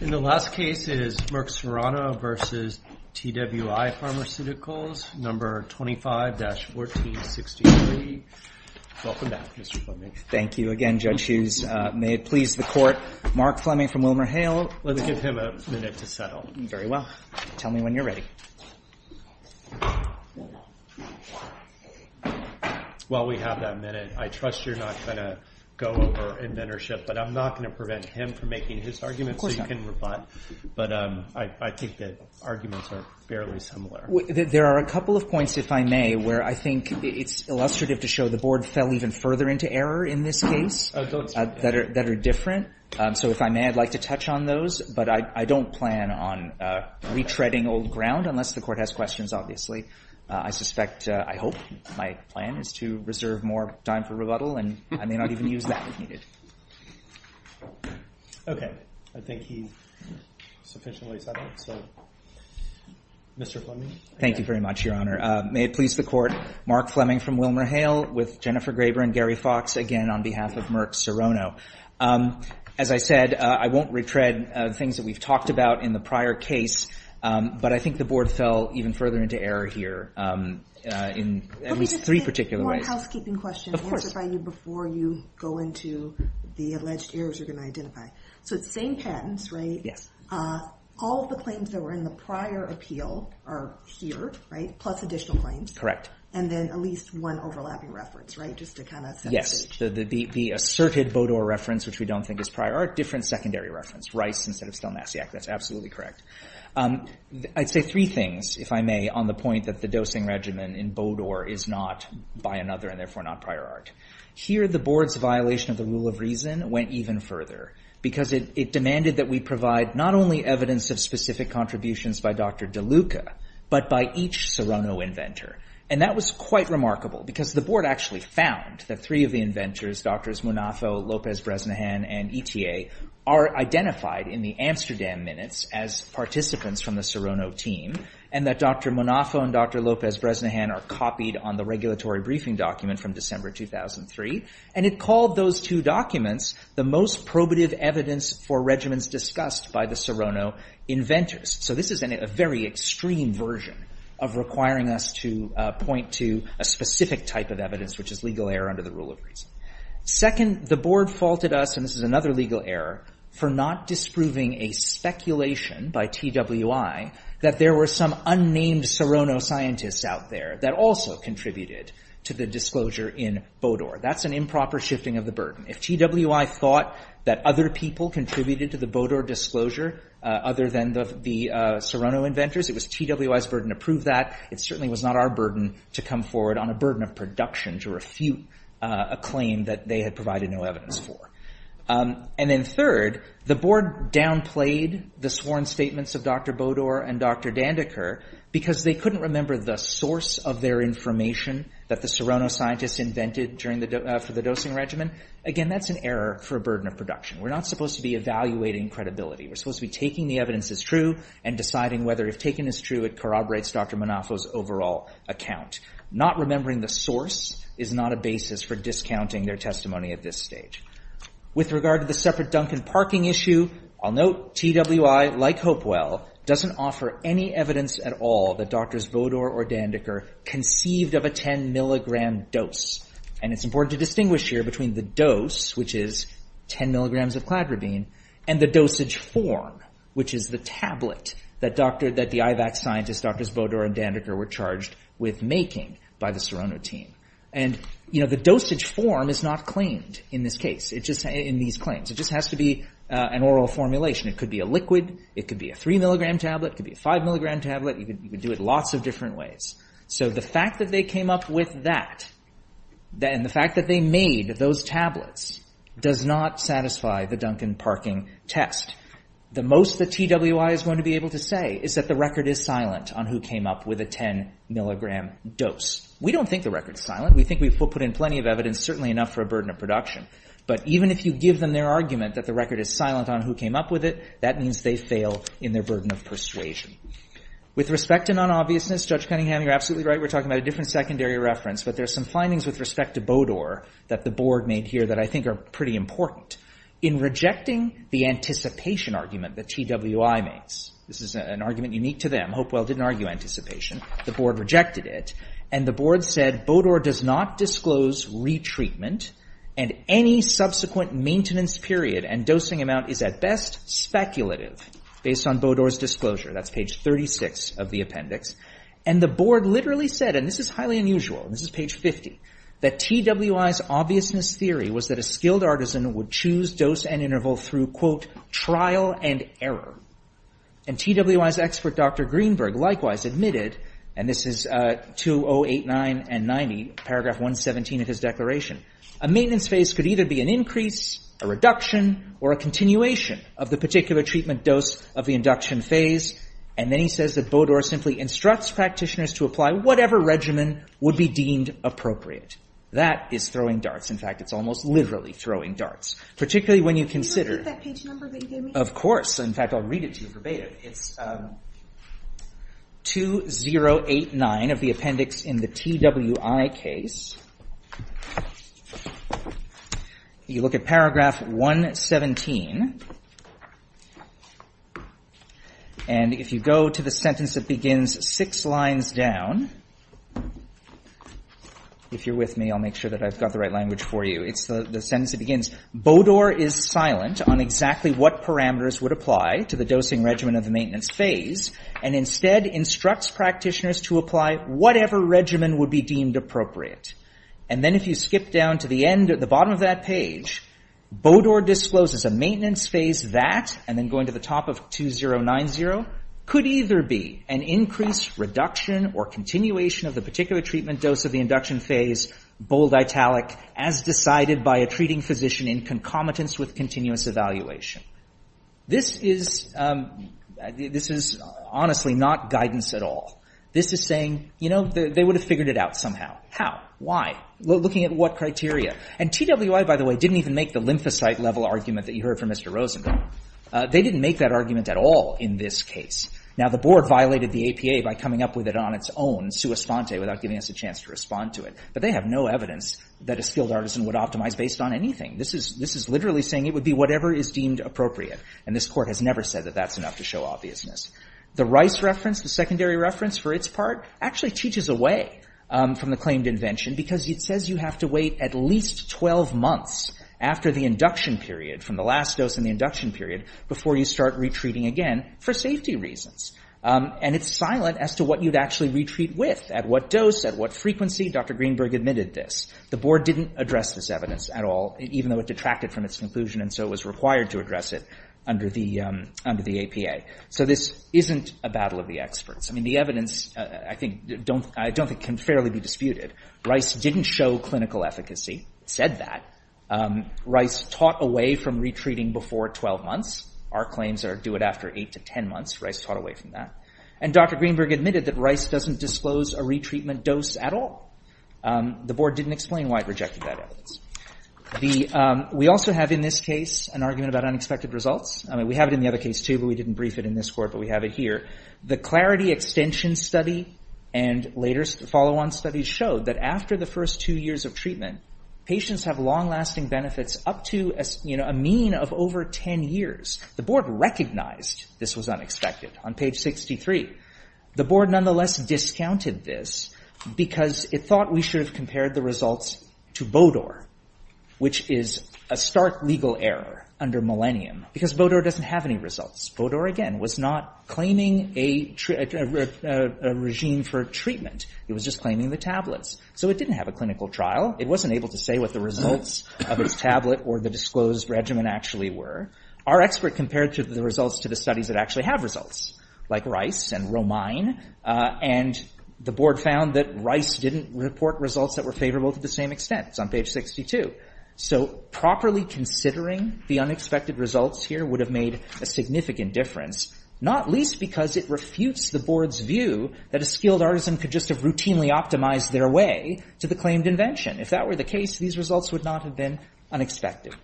Number 25-1463. Welcome back, Mr. Fleming. Thank you. Again, Judge Hughes, may it please the Court, Mark Fleming from WilmerHale. Let's give him a minute to settle. Very well. Tell me when you're ready. Well, we have that minute. I trust you're not going to go over inventorship, but I'm not going to prevent him from making his argument. Of course not. So you can report back. But I think the arguments are fairly similar. There are a couple of points, if I may, where I think it's illustrative to show the Board fell even further into error in this case that are different. So if I may, I'd like to touch on those. But I don't plan on retreading old ground, unless the Court has questions, obviously. I suspect, I hope, my plan is to reserve more time for rebuttal, and I may not even use that if needed. Okay. I think he's sufficiently settled. So, Mr. Fleming. Thank you very much, Your Honor. May it please the Court, Mark Fleming from WilmerHale, with Jennifer Graber and Gary Fox, again, on behalf of Merck Sorono. As I said, I won't retread things that we've talked about in the prior case, but I think the Board fell even further into error here in at least three particular ways. Let me just make one housekeeping question. Of course. Answered by you before you go into the alleged errors you're going to identify. Okay. So it's the same patents, right? Yes. All of the claims that were in the prior appeal are here, right, plus additional claims. Correct. And then at least one overlapping reference, right, just to kind of set the stage. Yes. The asserted Bodor reference, which we don't think is prior art, different secondary reference. Rice instead of Stelmassiak. That's absolutely correct. I'd say three things, if I may, on the point that the dosing regimen in Bodor is not by another and therefore not prior art. Here the Board's violation of the rule of reason went even further, because it demanded that we provide not only evidence of specific contributions by Dr. DeLuca, but by each Serrano inventor. And that was quite remarkable, because the Board actually found that three of the inventors, Drs. Munafo, Lopez-Bresnahan, and ETA, are identified in the Amsterdam minutes as participants from the Serrano team, and that Dr. Munafo and Dr. Lopez-Bresnahan are copied on the regulatory briefing document from December 2003. And it called those two documents the most probative evidence for regimens discussed by the Serrano inventors. So this is a very extreme version of requiring us to point to a specific type of evidence, which is legal error under the rule of reason. Second, the Board faulted us, and this is another legal error, for not disproving a speculation by TWI that there were some unnamed Serrano scientists out there that also contributed to the disclosure in Bodor. That's an improper shifting of the burden. If TWI thought that other people contributed to the Bodor disclosure, other than the Serrano inventors, it was TWI's burden to prove that. It certainly was not our burden to come forward on a burden of production to refute a claim that they had provided no evidence for. And then third, the Board downplayed the sworn statements of Dr. Bodor and Dr. Dandeker, because they couldn't remember the source of their information that the Serrano scientists invented for the dosing regimen. Again, that's an error for a burden of production. We're not supposed to be evaluating credibility. We're supposed to be taking the evidence as true and deciding whether if taken as true it corroborates Dr. Manafo's overall account. Not remembering the source is not a basis for discounting their testimony at this stage. With regard to the separate Duncan parking issue, I'll note TWI, like Hopewell, doesn't offer any evidence at all that Drs. Bodor or Dandeker conceived of a 10 milligram dose. And it's important to distinguish here between the dose, which is 10 milligrams of cladribine, and the dosage form, which is the tablet that the IVAC scientists, Drs. Bodor and Dandeker, were charged with making by the Serrano team. And the dosage form is not claimed in this case, in these claims. It just has to be an oral formulation. It could be a liquid, it could be a 3 milligram tablet, it could be a 5 milligram tablet. You could do it lots of different ways. So the fact that they came up with that, and the fact that they made those tablets, does not satisfy the Duncan parking test. The most that TWI is going to be able to say is that the record is silent on who came up with a 10 milligram dose. We don't think the record is silent. We think we've put in plenty of evidence, certainly enough for a burden of production. But even if you give them their argument that the record is silent on who came up with it, that means they fail in their burden of persuasion. With respect to non-obviousness, Judge Cunningham, you're absolutely right. We're talking about a different secondary reference. But there's some findings with respect to Bodor that the board made here that I think are pretty important. In rejecting the anticipation argument that TWI makes, this is an argument unique to them. Hopewell didn't argue anticipation. The board rejected it. And the board said, Bodor does not disclose retreatment and any subsequent maintenance period and dosing amount is at best speculative based on Bodor's disclosure. That's page 36 of the appendix. And the board literally said, and this is highly unusual, this is page 50, that TWI's obviousness theory was that a skilled artisan would choose dose and interval through, quote, trial and error. And TWI's expert, Dr. Greenberg, likewise admitted, and this is 2089 and 90, paragraph 117 of his declaration, a maintenance phase could either be an increase, a reduction, or a continuation of the particular treatment dose of the induction phase. And then he says that Bodor simply instructs practitioners to apply whatever regimen would be deemed appropriate. That is throwing darts. In fact, it's almost literally throwing darts. Particularly when you consider- Can you repeat that page number that you gave me? Of course. In fact, I'll read it to you verbatim. It's 2089 of the appendix in the TWI case. You look at paragraph 117. And if you go to the sentence that begins six lines down, if you're with me, I'll make sure that I've got the right language for you. It's the sentence that begins, Bodor is silent on exactly what parameters would apply to the dosing regimen of the maintenance phase, and instead instructs practitioners to apply whatever regimen would be deemed appropriate. And then if you skip down to the bottom of that page, Bodor discloses a maintenance phase that, and then going to the top of 2090, could either be an increase, reduction, or continuation of the particular treatment dose of the induction phase, bold italic, as decided by a treating physician in concomitance with continuous evaluation. This is honestly not guidance at all. This is saying, you know, they would have figured it out somehow. How? Why? Looking at what criteria? And TWI, by the way, didn't even make the lymphocyte level argument that you heard from Mr. Rosenberg. They didn't make that argument at all in this case. Now the board violated the APA by coming up with it on its own, sua sponte, without giving us a chance to respond to it, but they have no evidence that a skilled artisan would optimize based on anything. This is literally saying it would be whatever is deemed appropriate, and this court has never said that that's enough to show obviousness. The Rice reference, the secondary reference for its part, actually teaches away from the claimed invention because it says you have to wait at least 12 months after the induction period, from the last dose in the induction period, before you start retreating again for safety reasons. And it's silent as to what you'd actually retreat with, at what dose, at what frequency. Dr. Greenberg admitted this. The board didn't address this evidence at all, even though it detracted from its conclusion and so it was required to address it under the APA. So this isn't a battle of the experts. I mean, the evidence, I think, I don't think can fairly be disputed. Rice didn't show clinical efficacy, said that. Rice taught away from retreating before 12 months. Our claims are do it after 8 to 10 months. Rice taught away from that. And Dr. Greenberg admitted that Rice doesn't disclose a retreatment dose at all. The board didn't explain why it rejected that evidence. We also have, in this case, an argument about unexpected results. We have it in the other case too, but we didn't brief it in this court, but we have it here. The Clarity Extension Study and later follow-on studies showed that after the first two years of treatment, patients have long-lasting benefits up to a mean of over 10 years. The board recognized this was unexpected on page 63. The board nonetheless discounted this because it thought we should have compared the results to Bodor, which is a stark legal error under Millennium because Bodor doesn't have any results. Bodor, again, was not claiming a regime for treatment. It was just claiming the tablets. So it didn't have a clinical trial. It wasn't able to say what the results of its tablet or the disclosed regimen actually were. Our expert compared the results to the studies that actually have results, like Rice and Romine, and the board found that Rice didn't report results that were favorable to the same extent. It's on page 62. So properly considering the unexpected results here would have made a significant difference, not least because it refutes the board's view that a skilled artisan could just have routinely optimized their way to the claimed invention. If that were the case, these results would not have been unexpected.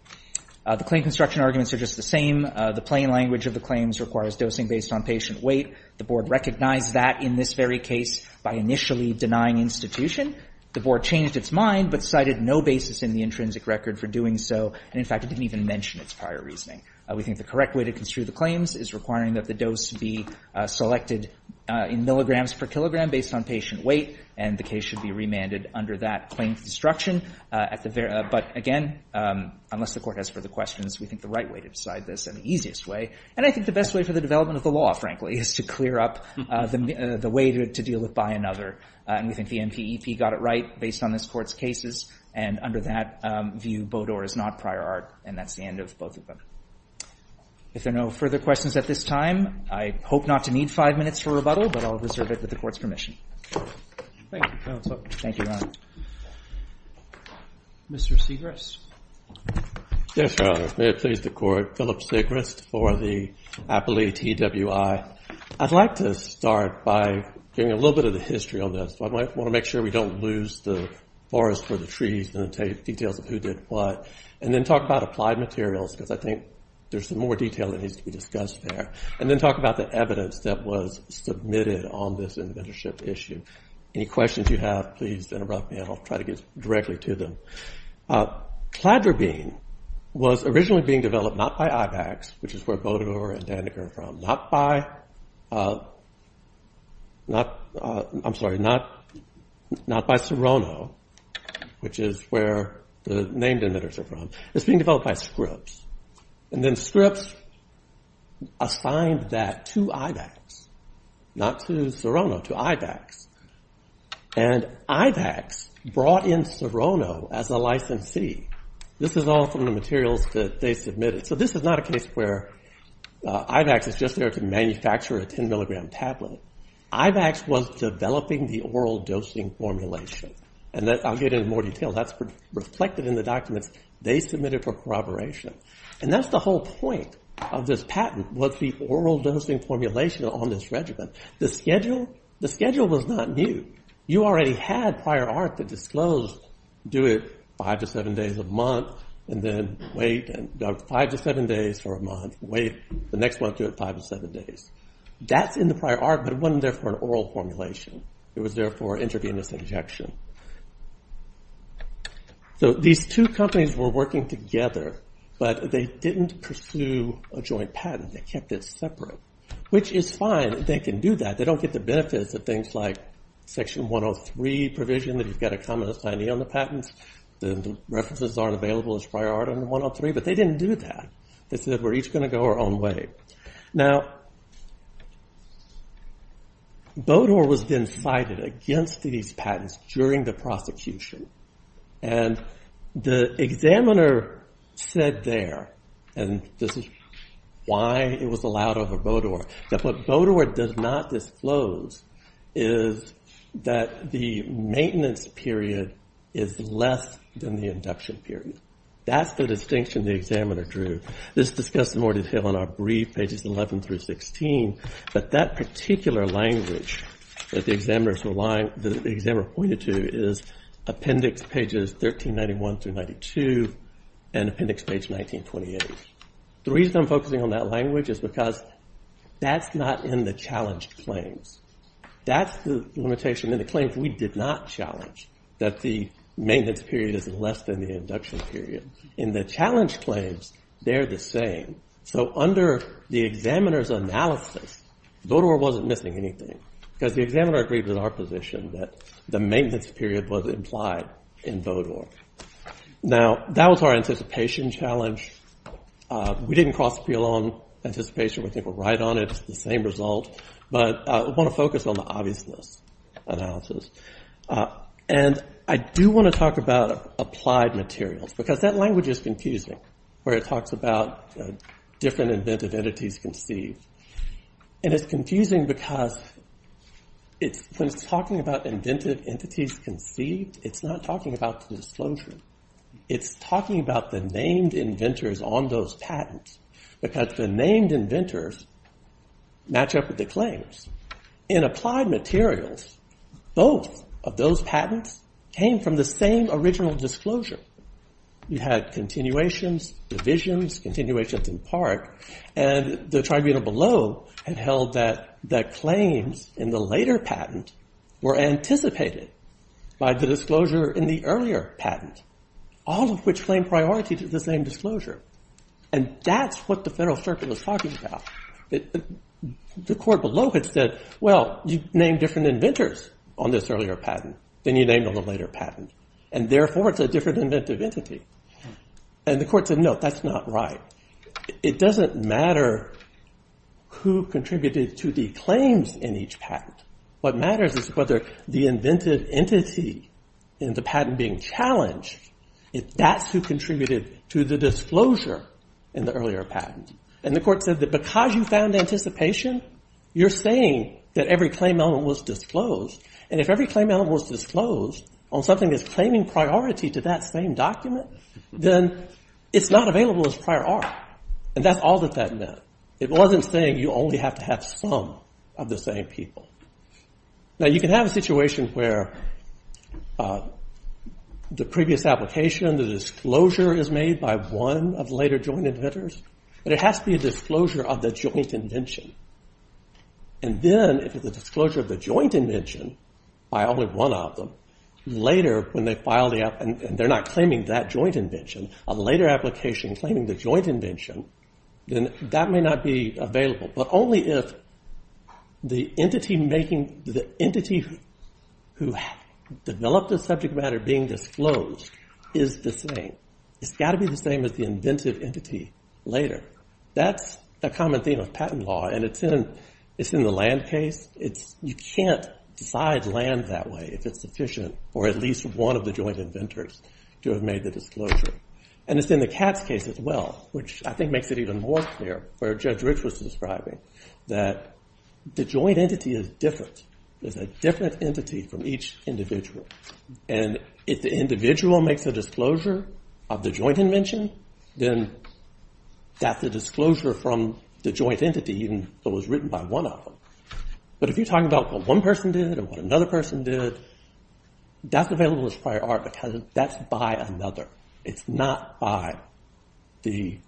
The claim construction arguments are just the same. The plain language of the claims requires dosing based on patient weight. The board recognized that in this very case by initially denying institution. The board changed its mind but cited no basis in the intrinsic record for doing so, and in fact, it didn't even mention its prior reasoning. We think the correct way to construe the claims is requiring that the dose be selected in milligrams per kilogram based on patient weight, and the case should be remanded under that claim construction. But again, unless the court has further questions, we think the right way to decide this is the easiest way. And I think the best way for the development of the law, frankly, is to clear up the way to deal with by another, and we think the NPEP got it right based on this Court's And under that view, Bodor is not prior art, and that's the end of both of them. If there are no further questions at this time, I hope not to need five minutes for rebuttal, but I'll reserve it with the Court's permission. Thank you, counsel. Thank you, Ron. Mr. Segrist. Yes, Your Honor. May it please the Court. Philip Segrist for the Appellee TWI. I'd like to start by giving a little bit of the history on this. I want to make sure we don't lose the forest for the trees and the details of who did what, and then talk about applied materials, because I think there's some more detail that needs to be discussed there. And then talk about the evidence that was submitted. Any questions you have, please interrupt me, and I'll try to get directly to them. Cladrabine was originally being developed not by IVACS, which is where Bodor and Dandeker are from, not by Serrano, which is where the named inventors are from. It's being developed by Scripps. And then Scripps assigned that to IVACS, not to Serrano, to IVACS. And IVACS brought in Serrano as a licensee. This is all from the materials that they submitted. So this is not a case where IVACS is just there to manufacture a 10-milligram tablet. IVACS was developing the oral dosing formulation, and I'll get into more detail. That's reflected in the documents they submitted for corroboration. And that's the whole point of this patent, was the oral dosing formulation on this regimen. The schedule was not new. You already had prior art that disclosed, do it five to seven days a month, and then wait, and five to seven days for a month, wait, the next month do it five to seven days. That's in the prior art, but it wasn't there for an oral formulation. It was there for intravenous injection. So these two companies were working together, but they didn't pursue a joint patent. They kept it separate, which is fine. They can do that. They don't get the benefits of things like Section 103 provision, that you've got a common assignee on the patents. The references aren't available as prior art under 103, but they didn't do that. They said, we're each going to go our own way. Now, Bodor was then cited against these patents during the prosecution. And the examiner said there, and this is why it was allowed over Bodor, that what Bodor does not disclose is that the maintenance period is less than the induction period. That's the distinction the examiner drew. This is discussed in more detail in our brief, pages 11 through 16, but that particular language that the examiner pointed to is appendix pages 1391 through 92 and appendix page 1928. The reason I'm focusing on that language is because that's not in the challenge claims. That's the limitation in the claims we did not challenge, that the maintenance period is less than the induction period. In the challenge claims, they're the same. So under the examiner's analysis, Bodor wasn't missing anything, because the examiner agreed with our position that the maintenance period was implied in Bodor. Now that was our anticipation challenge. We didn't cross appeal on anticipation, we think we're right on it, it's the same result. But I want to focus on the obviousness analysis. And I do want to talk about applied materials, because that language is confusing, where it talks about different inventive entities conceived. And it's confusing because when it's talking about inventive entities conceived, it's not talking about the disclosure. It's talking about the named inventors on those patents, because the named inventors match up with the claims. In applied materials, both of those patents came from the same original disclosure. You had continuations, divisions, continuations in part. And the tribunal below had held that the claims in the later patent were anticipated by the disclosure in the earlier patent, all of which claimed priority to the same disclosure. And that's what the federal circuit was talking about. The court below had said, well, you named different inventors on this earlier patent than you named on the later patent. And therefore, it's a different inventive entity. And the court said, no, that's not right. It doesn't matter who contributed to the claims in each patent. What matters is whether the inventive entity in the patent being challenged, that's who contributed to the disclosure in the earlier patent. And the court said that because you found anticipation, you're saying that every claim element was disclosed. And if every claim element was disclosed on something that's claiming priority to that same document, then it's not available as prior art. And that's all that that meant. It wasn't saying you only have to have some of the same people. Now, you can have a situation where the previous application, the disclosure is made by one of the later joint inventors. But it has to be a disclosure of the joint invention. And then, if it's a disclosure of the joint invention by only one of them, later when they file the app and they're not claiming that joint invention, a later application claiming the joint invention, then that may not be available. But only if the entity who developed the subject matter being disclosed is the same. It's got to be the same as the inventive entity later. That's a common theme of patent law. And it's in the land case. You can't decide land that way if it's sufficient for at least one of the joint inventors to have made the disclosure. And it's in the Katz case as well, which I think makes it even more clear, where Judge Rich was describing, that the joint entity is different. There's a different entity from each individual. And if the individual makes a disclosure of the joint invention, then that's a disclosure from the joint entity even that was written by one of them. But if you're talking about what one person did and what another person did, that's available as prior art because that's by another. It's not by the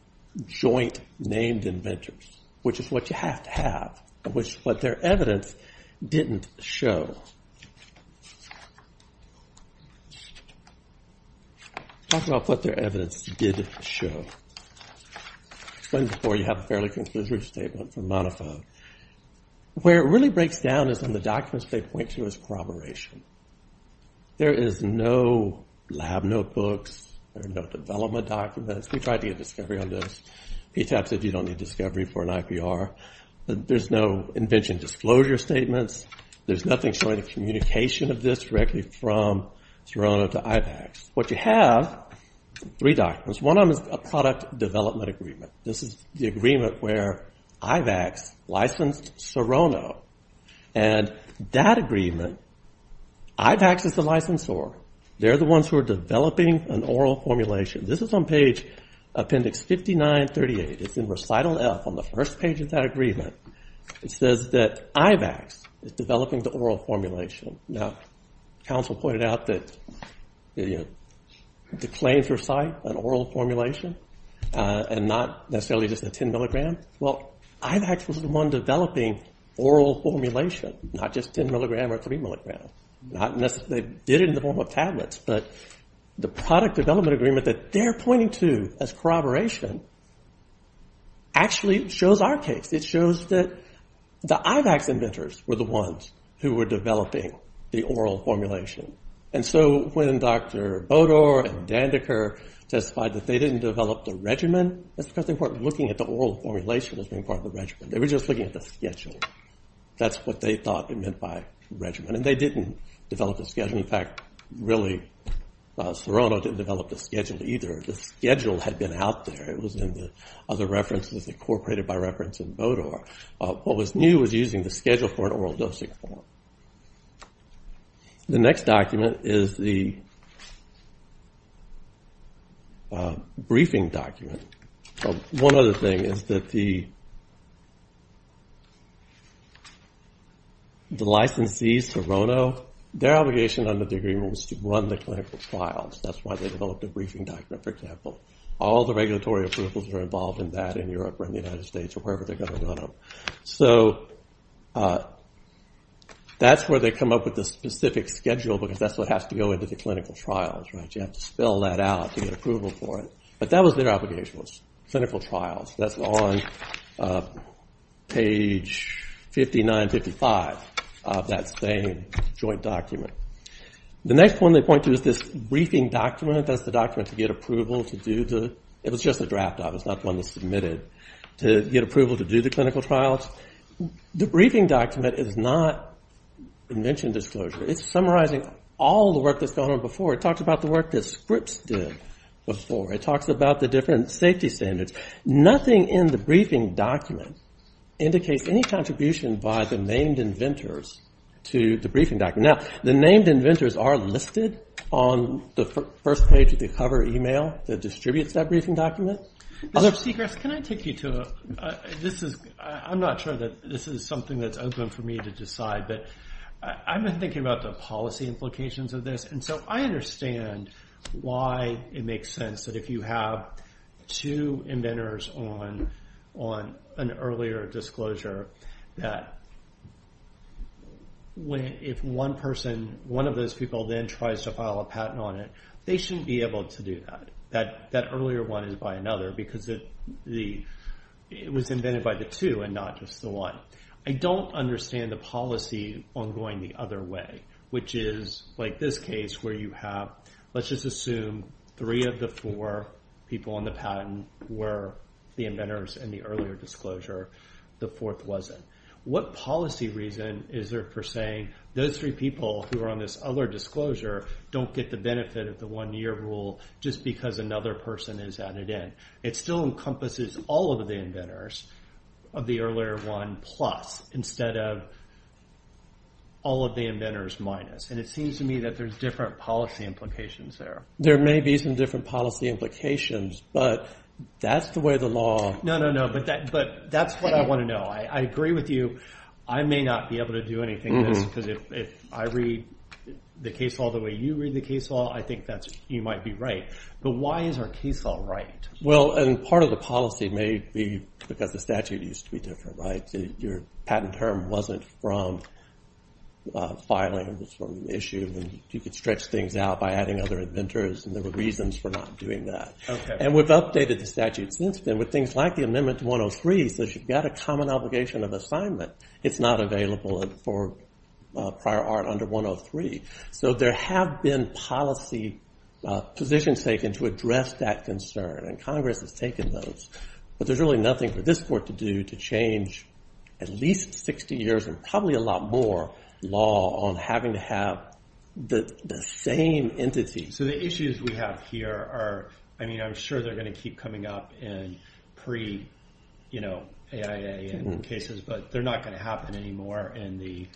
joint named inventors, which is what you have to have, which what their evidence didn't show. Let's talk about what their evidence did show. I explained before, you have a fairly conclusive statement from Monofoe. Where it really breaks down is in the documents they point to as corroboration. There is no lab notebooks. There are no development documents. We tried to get discovery on this. PTAP said you don't need discovery for an IPR. There's no invention disclosure statements. There's nothing showing a communication of this directly from Cerono to IVACS. What you have, three documents. One of them is a product development agreement. This is the agreement where IVACS licensed Cerono. And that agreement, IVACS is the licensor. They're the ones who are developing an oral formulation. This is on page appendix 5938. It's in recital F on the first page of that agreement. It says that IVACS is developing the oral formulation. Now, counsel pointed out that the claims for site, an oral formulation, and not necessarily just a 10 milligram. Well, IVACS was the one developing oral formulation. Not just 10 milligram or 3 milligram. Not necessarily, they did it in the form of tablets. But the product development agreement that they're pointing to as corroboration actually shows our case. It shows that the IVACS inventors were the ones who were developing the oral formulation. And so when Dr. Bodor and Dandeker testified that they didn't develop the regimen, that's because they weren't looking at the oral formulation as being part of the regimen. They were just looking at the schedule. That's what they thought it meant by regimen. And they didn't develop the schedule. In fact, really, Cerono didn't develop the schedule either. The schedule had been out there. It was in the other references incorporated by reference in Bodor. What was new was using the schedule for an oral dosing form. The next document is the briefing document. One other thing is that the licensees, Cerono, their obligation under the agreement was to run the clinical trials. That's why they developed a briefing document, for example. All the regulatory approvals were involved in that in Europe or in the United States or wherever they're gonna run them. So that's where they come up with the specific schedule because that's what has to go into the clinical trials. You have to spell that out to get approval for it. But that was their obligation, was clinical trials. That's on page 59, 55 of that same joint document. The next one they point to is this briefing document. That's the document to get approval to do the, it was just a draft of, it's not one that's submitted, to get approval to do the clinical trials. The briefing document is not invention disclosure. It's summarizing all the work that's gone on before. It talks about the work that Scripps did before. It talks about the different safety standards. Nothing in the briefing document indicates any contribution by the named inventors to the briefing document. Now, the named inventors are listed on the first page of the cover email that distributes that briefing document. Mr. Scripps, can I take you to a, this is, I'm not sure that this is something that's open for me to decide, but I've been thinking about the policy implications of this and so I understand why it makes sense that if you have two inventors on an earlier disclosure that if one person, one of those people then tries to file a patent on it, they shouldn't be able to do that. That earlier one is by another because it was invented by the two and not just the one. I don't understand the policy on going the other way, which is like this case where you have, let's just assume three of the four people on the patent were the inventors in the earlier disclosure. The fourth wasn't. What policy reason is there for saying those three people who are on this other disclosure don't get the benefit of the one-year rule just because another person is added in? It still encompasses all of the inventors of the earlier one plus instead of all of the inventors minus and it seems to me that there's different policy implications there. There may be some different policy implications, but that's the way the law. No, no, no, but that's what I want to know. I agree with you. I may not be able to do anything with this because if I read the case law the way you read the case law, I think you might be right, but why is our case law right? Well, and part of the policy may be because the statute used to be different, right? Your patent term wasn't from filing, it was from issue and you could stretch things out by adding other inventors and there were reasons for not doing that. And we've updated the statute since then with things like the amendment to 103 says you've got a common obligation of assignment. It's not available for prior art under 103. So there have been policy positions taken to address that concern and Congress has taken those, but there's really nothing for this court to do to change at least 60 years and probably a lot more law on having to have the same entity. So the issues we have here are, I mean, I'm sure they're gonna keep coming up in pre-AIA cases, but they're not gonna happen anymore in the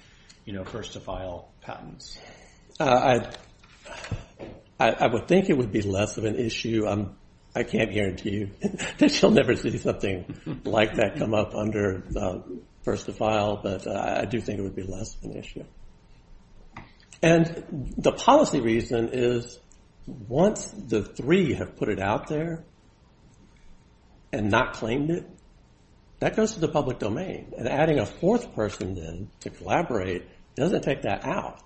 first-to-file patents. I would think it would be less of an issue. I can't guarantee that you'll never see something like that come up under first-to-file, but I do think it would be less of an issue. And the policy reason is once the three have put it out there and not claimed it, that goes to the public domain and adding a fourth person in to collaborate doesn't take that out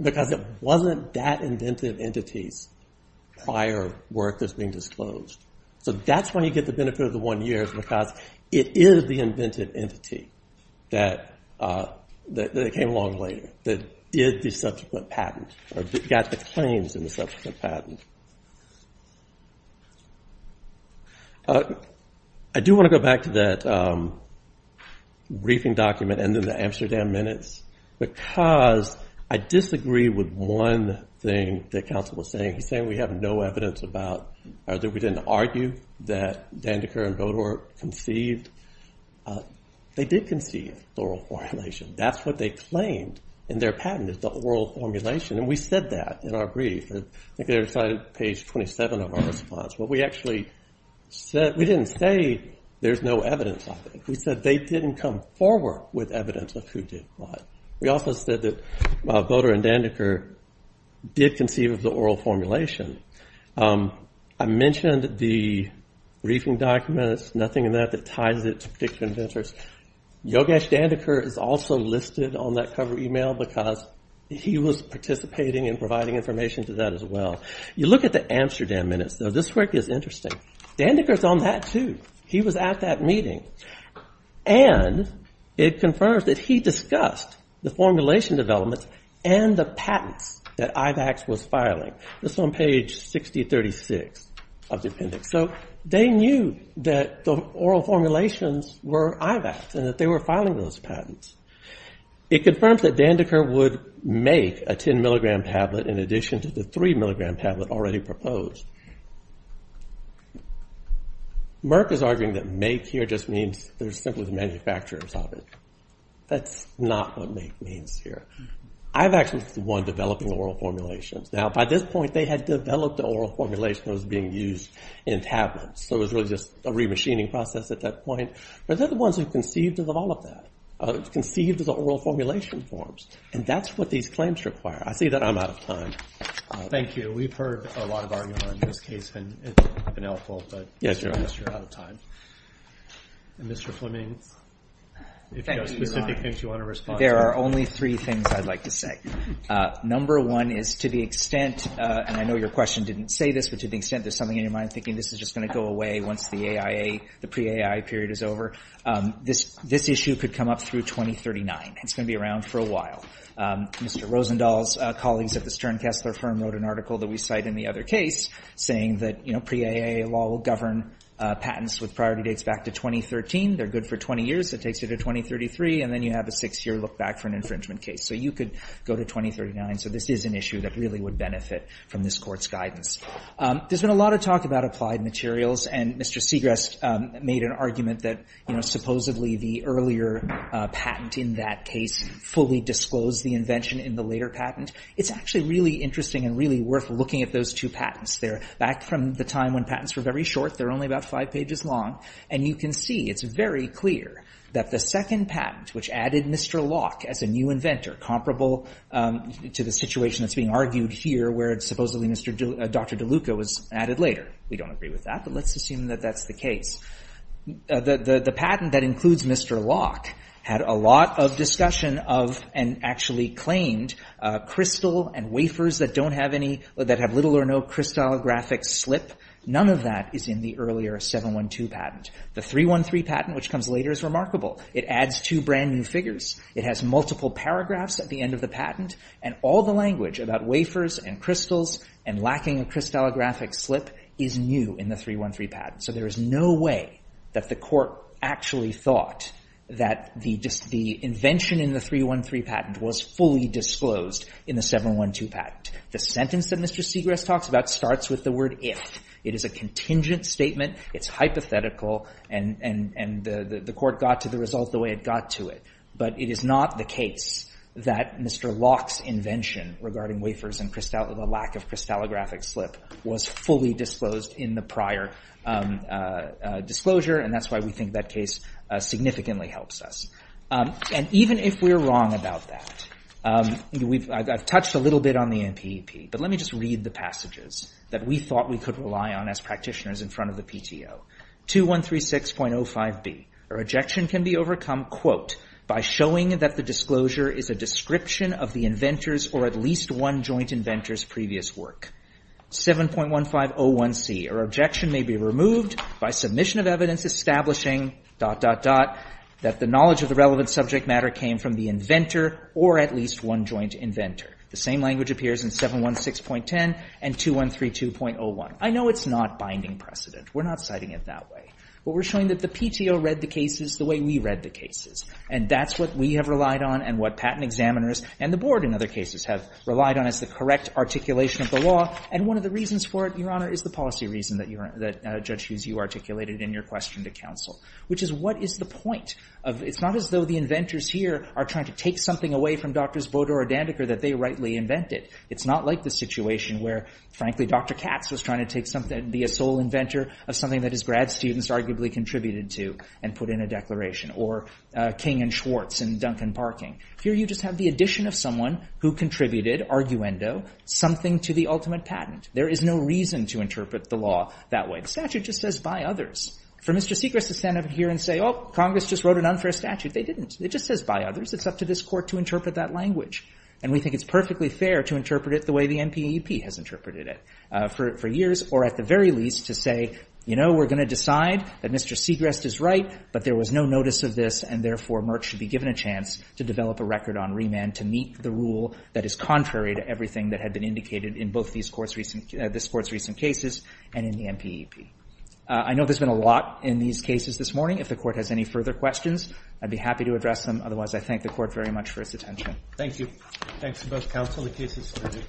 because it wasn't that inventive entity's prior work that's being disclosed. So that's when you get the benefit of the one year because it is the inventive entity that came along later, that did the subsequent patent or got the claims in the subsequent patent. I do want to go back to that briefing document and then the Amsterdam minutes because I disagree with one thing that Council was saying. He's saying we have no evidence about, or that we didn't argue that Dandeker and Bodor conceived. They did conceive oral formulation. That's what they claimed in their patent is the oral formulation, and we said that in our brief. I think they were cited page 27 of our response. What we actually said, we didn't say there's no evidence of it. We said they didn't come forward with evidence of who did what. We also said that Bodor and Dandeker did conceive of the oral formulation. I mentioned the briefing documents, nothing in that that ties it to particular inventors. Yogesh Dandeker is also listed on that cover email because he was participating and providing information to that as well. You look at the Amsterdam minutes, though this work is interesting. Dandeker's on that too. He was at that meeting, and it confirms that he discussed the formulation development and the patents that IVACS was filing. This is on page 6036 of the appendix. So they knew that the oral formulations were IVACS and that they were filing those patents. It confirms that Dandeker would make a 10 milligram tablet in addition to the three milligram tablet already proposed. Merck is arguing that make here just means they're simply the manufacturers of it. That's not what make means here. IVACS was the one developing oral formulations. Now by this point, they had developed the oral formulation that was being used in tablets. So it was really just a re-machining process at that point. But they're the ones who conceived of all of that, conceived of the oral formulation forms, and that's what these claims require. I see that I'm out of time. Thank you. We've heard a lot of argument in this case, and it's been helpful, but I guess you're out of time. Mr. Fleming, if you have specific things you want to respond to. There are only three things I'd like to say. Number one is to the extent, and I know your question didn't say this, but to the extent there's something in your mind thinking this is just going to go away once the pre-AIA period is over. This issue could come up through 2039. It's going to be around for a while. Mr. Rosendahl's colleagues at the Stern-Kessler firm wrote an article that we cite in the other case saying that pre-AIA law will govern patents with priority dates back to 2013. They're good for 20 years. It takes you to 2033, and then you have a six year look back for an infringement case. So you could go to 2039. So this is an issue that really would benefit from this court's guidance. There's been a lot of talk about applied materials, and Mr. Segrest made an argument that supposedly the earlier patent in that case fully disclosed the invention in the later patent. It's actually really interesting and really worth looking at those two patents. They're back from the time when patents were very short. They're only about five pages long, and you can see it's very clear that the second patent, which added Mr. Locke as a new inventor, comparable to the situation that's being argued here where supposedly Dr. DeLuca was added later. We don't agree with that, but let's assume that that's the case. The patent that includes Mr. Locke had a lot of discussion of, and actually claimed, crystal and wafers that have little or no crystallographic slip. None of that is in the earlier 712 patent. The 313 patent, which comes later, is remarkable. It adds two brand new figures. It has multiple paragraphs at the end of the patent, and all the language about wafers and crystals and lacking a crystallographic slip is new in the 313 patent. So there is no way that the court actually thought that the invention in the 313 patent was fully disclosed in the 712 patent. The sentence that Mr. Segrest talks about starts with the word if. It is a contingent statement. It's hypothetical, and the court got to the result the way it got to it. But it is not the case that Mr. Locke's invention regarding wafers and the lack of crystallographic slip was fully disclosed in the prior disclosure, and that's why we think that case significantly helps us. And even if we're wrong about that, I've touched a little bit on the NPEP, but let me just read the passages that we thought we could rely on as practitioners in front of the PTO. 2136.05b, a rejection can be overcome, quote, by showing that the disclosure is a description of the inventor's or at least one joint inventor's previous work. 7.1501c, a rejection may be removed by submission of evidence establishing, dot, dot, dot, that the knowledge of the relevant subject matter came from the inventor or at least one joint inventor. The same language appears in 716.10 and 2132.01. I know it's not binding precedent. We're not citing it that way, but we're showing that the PTO read the cases the way we read the cases, and that's what we have relied on and what patent examiners and the board in other cases have relied on as the correct articulation of the law, and one of the reasons for it, Your Honor, is the policy reason that Judge Hughes, you articulated in your question to counsel, which is what is the point of, it's not as though the inventors here are trying to take something away from Drs. Bodor or Dandeker that they rightly invented. It's not like the situation where, frankly, Dr. Katz was trying to take something, be a sole inventor of something that his grad students arguably contributed to and put in a declaration, or King and Schwartz and Duncan Parking. Here you just have the addition of someone who contributed, arguendo, something to the ultimate patent. There is no reason to interpret the law that way. The statute just says, by others. For Mr. Segrist to stand up here and say, oh, Congress just wrote an unfair statute. They didn't. It just says, by others. It's up to this court to interpret that language, and we think it's perfectly fair to interpret it the way the NPEP has interpreted it for years, or at the very least, to say, you know, we're gonna decide that Mr. Segrist is right, but there was no notice of this, and therefore, Merck should be given a chance to develop a record on remand to meet the rule that is contrary to everything that had been indicated in both this court's recent cases and in the NPEP. I know there's been a lot in these cases this morning. If the court has any further questions, I'd be happy to address them. Otherwise, I thank the court very much for its attention. Thank you. Thanks to both counsel. The case is submitted.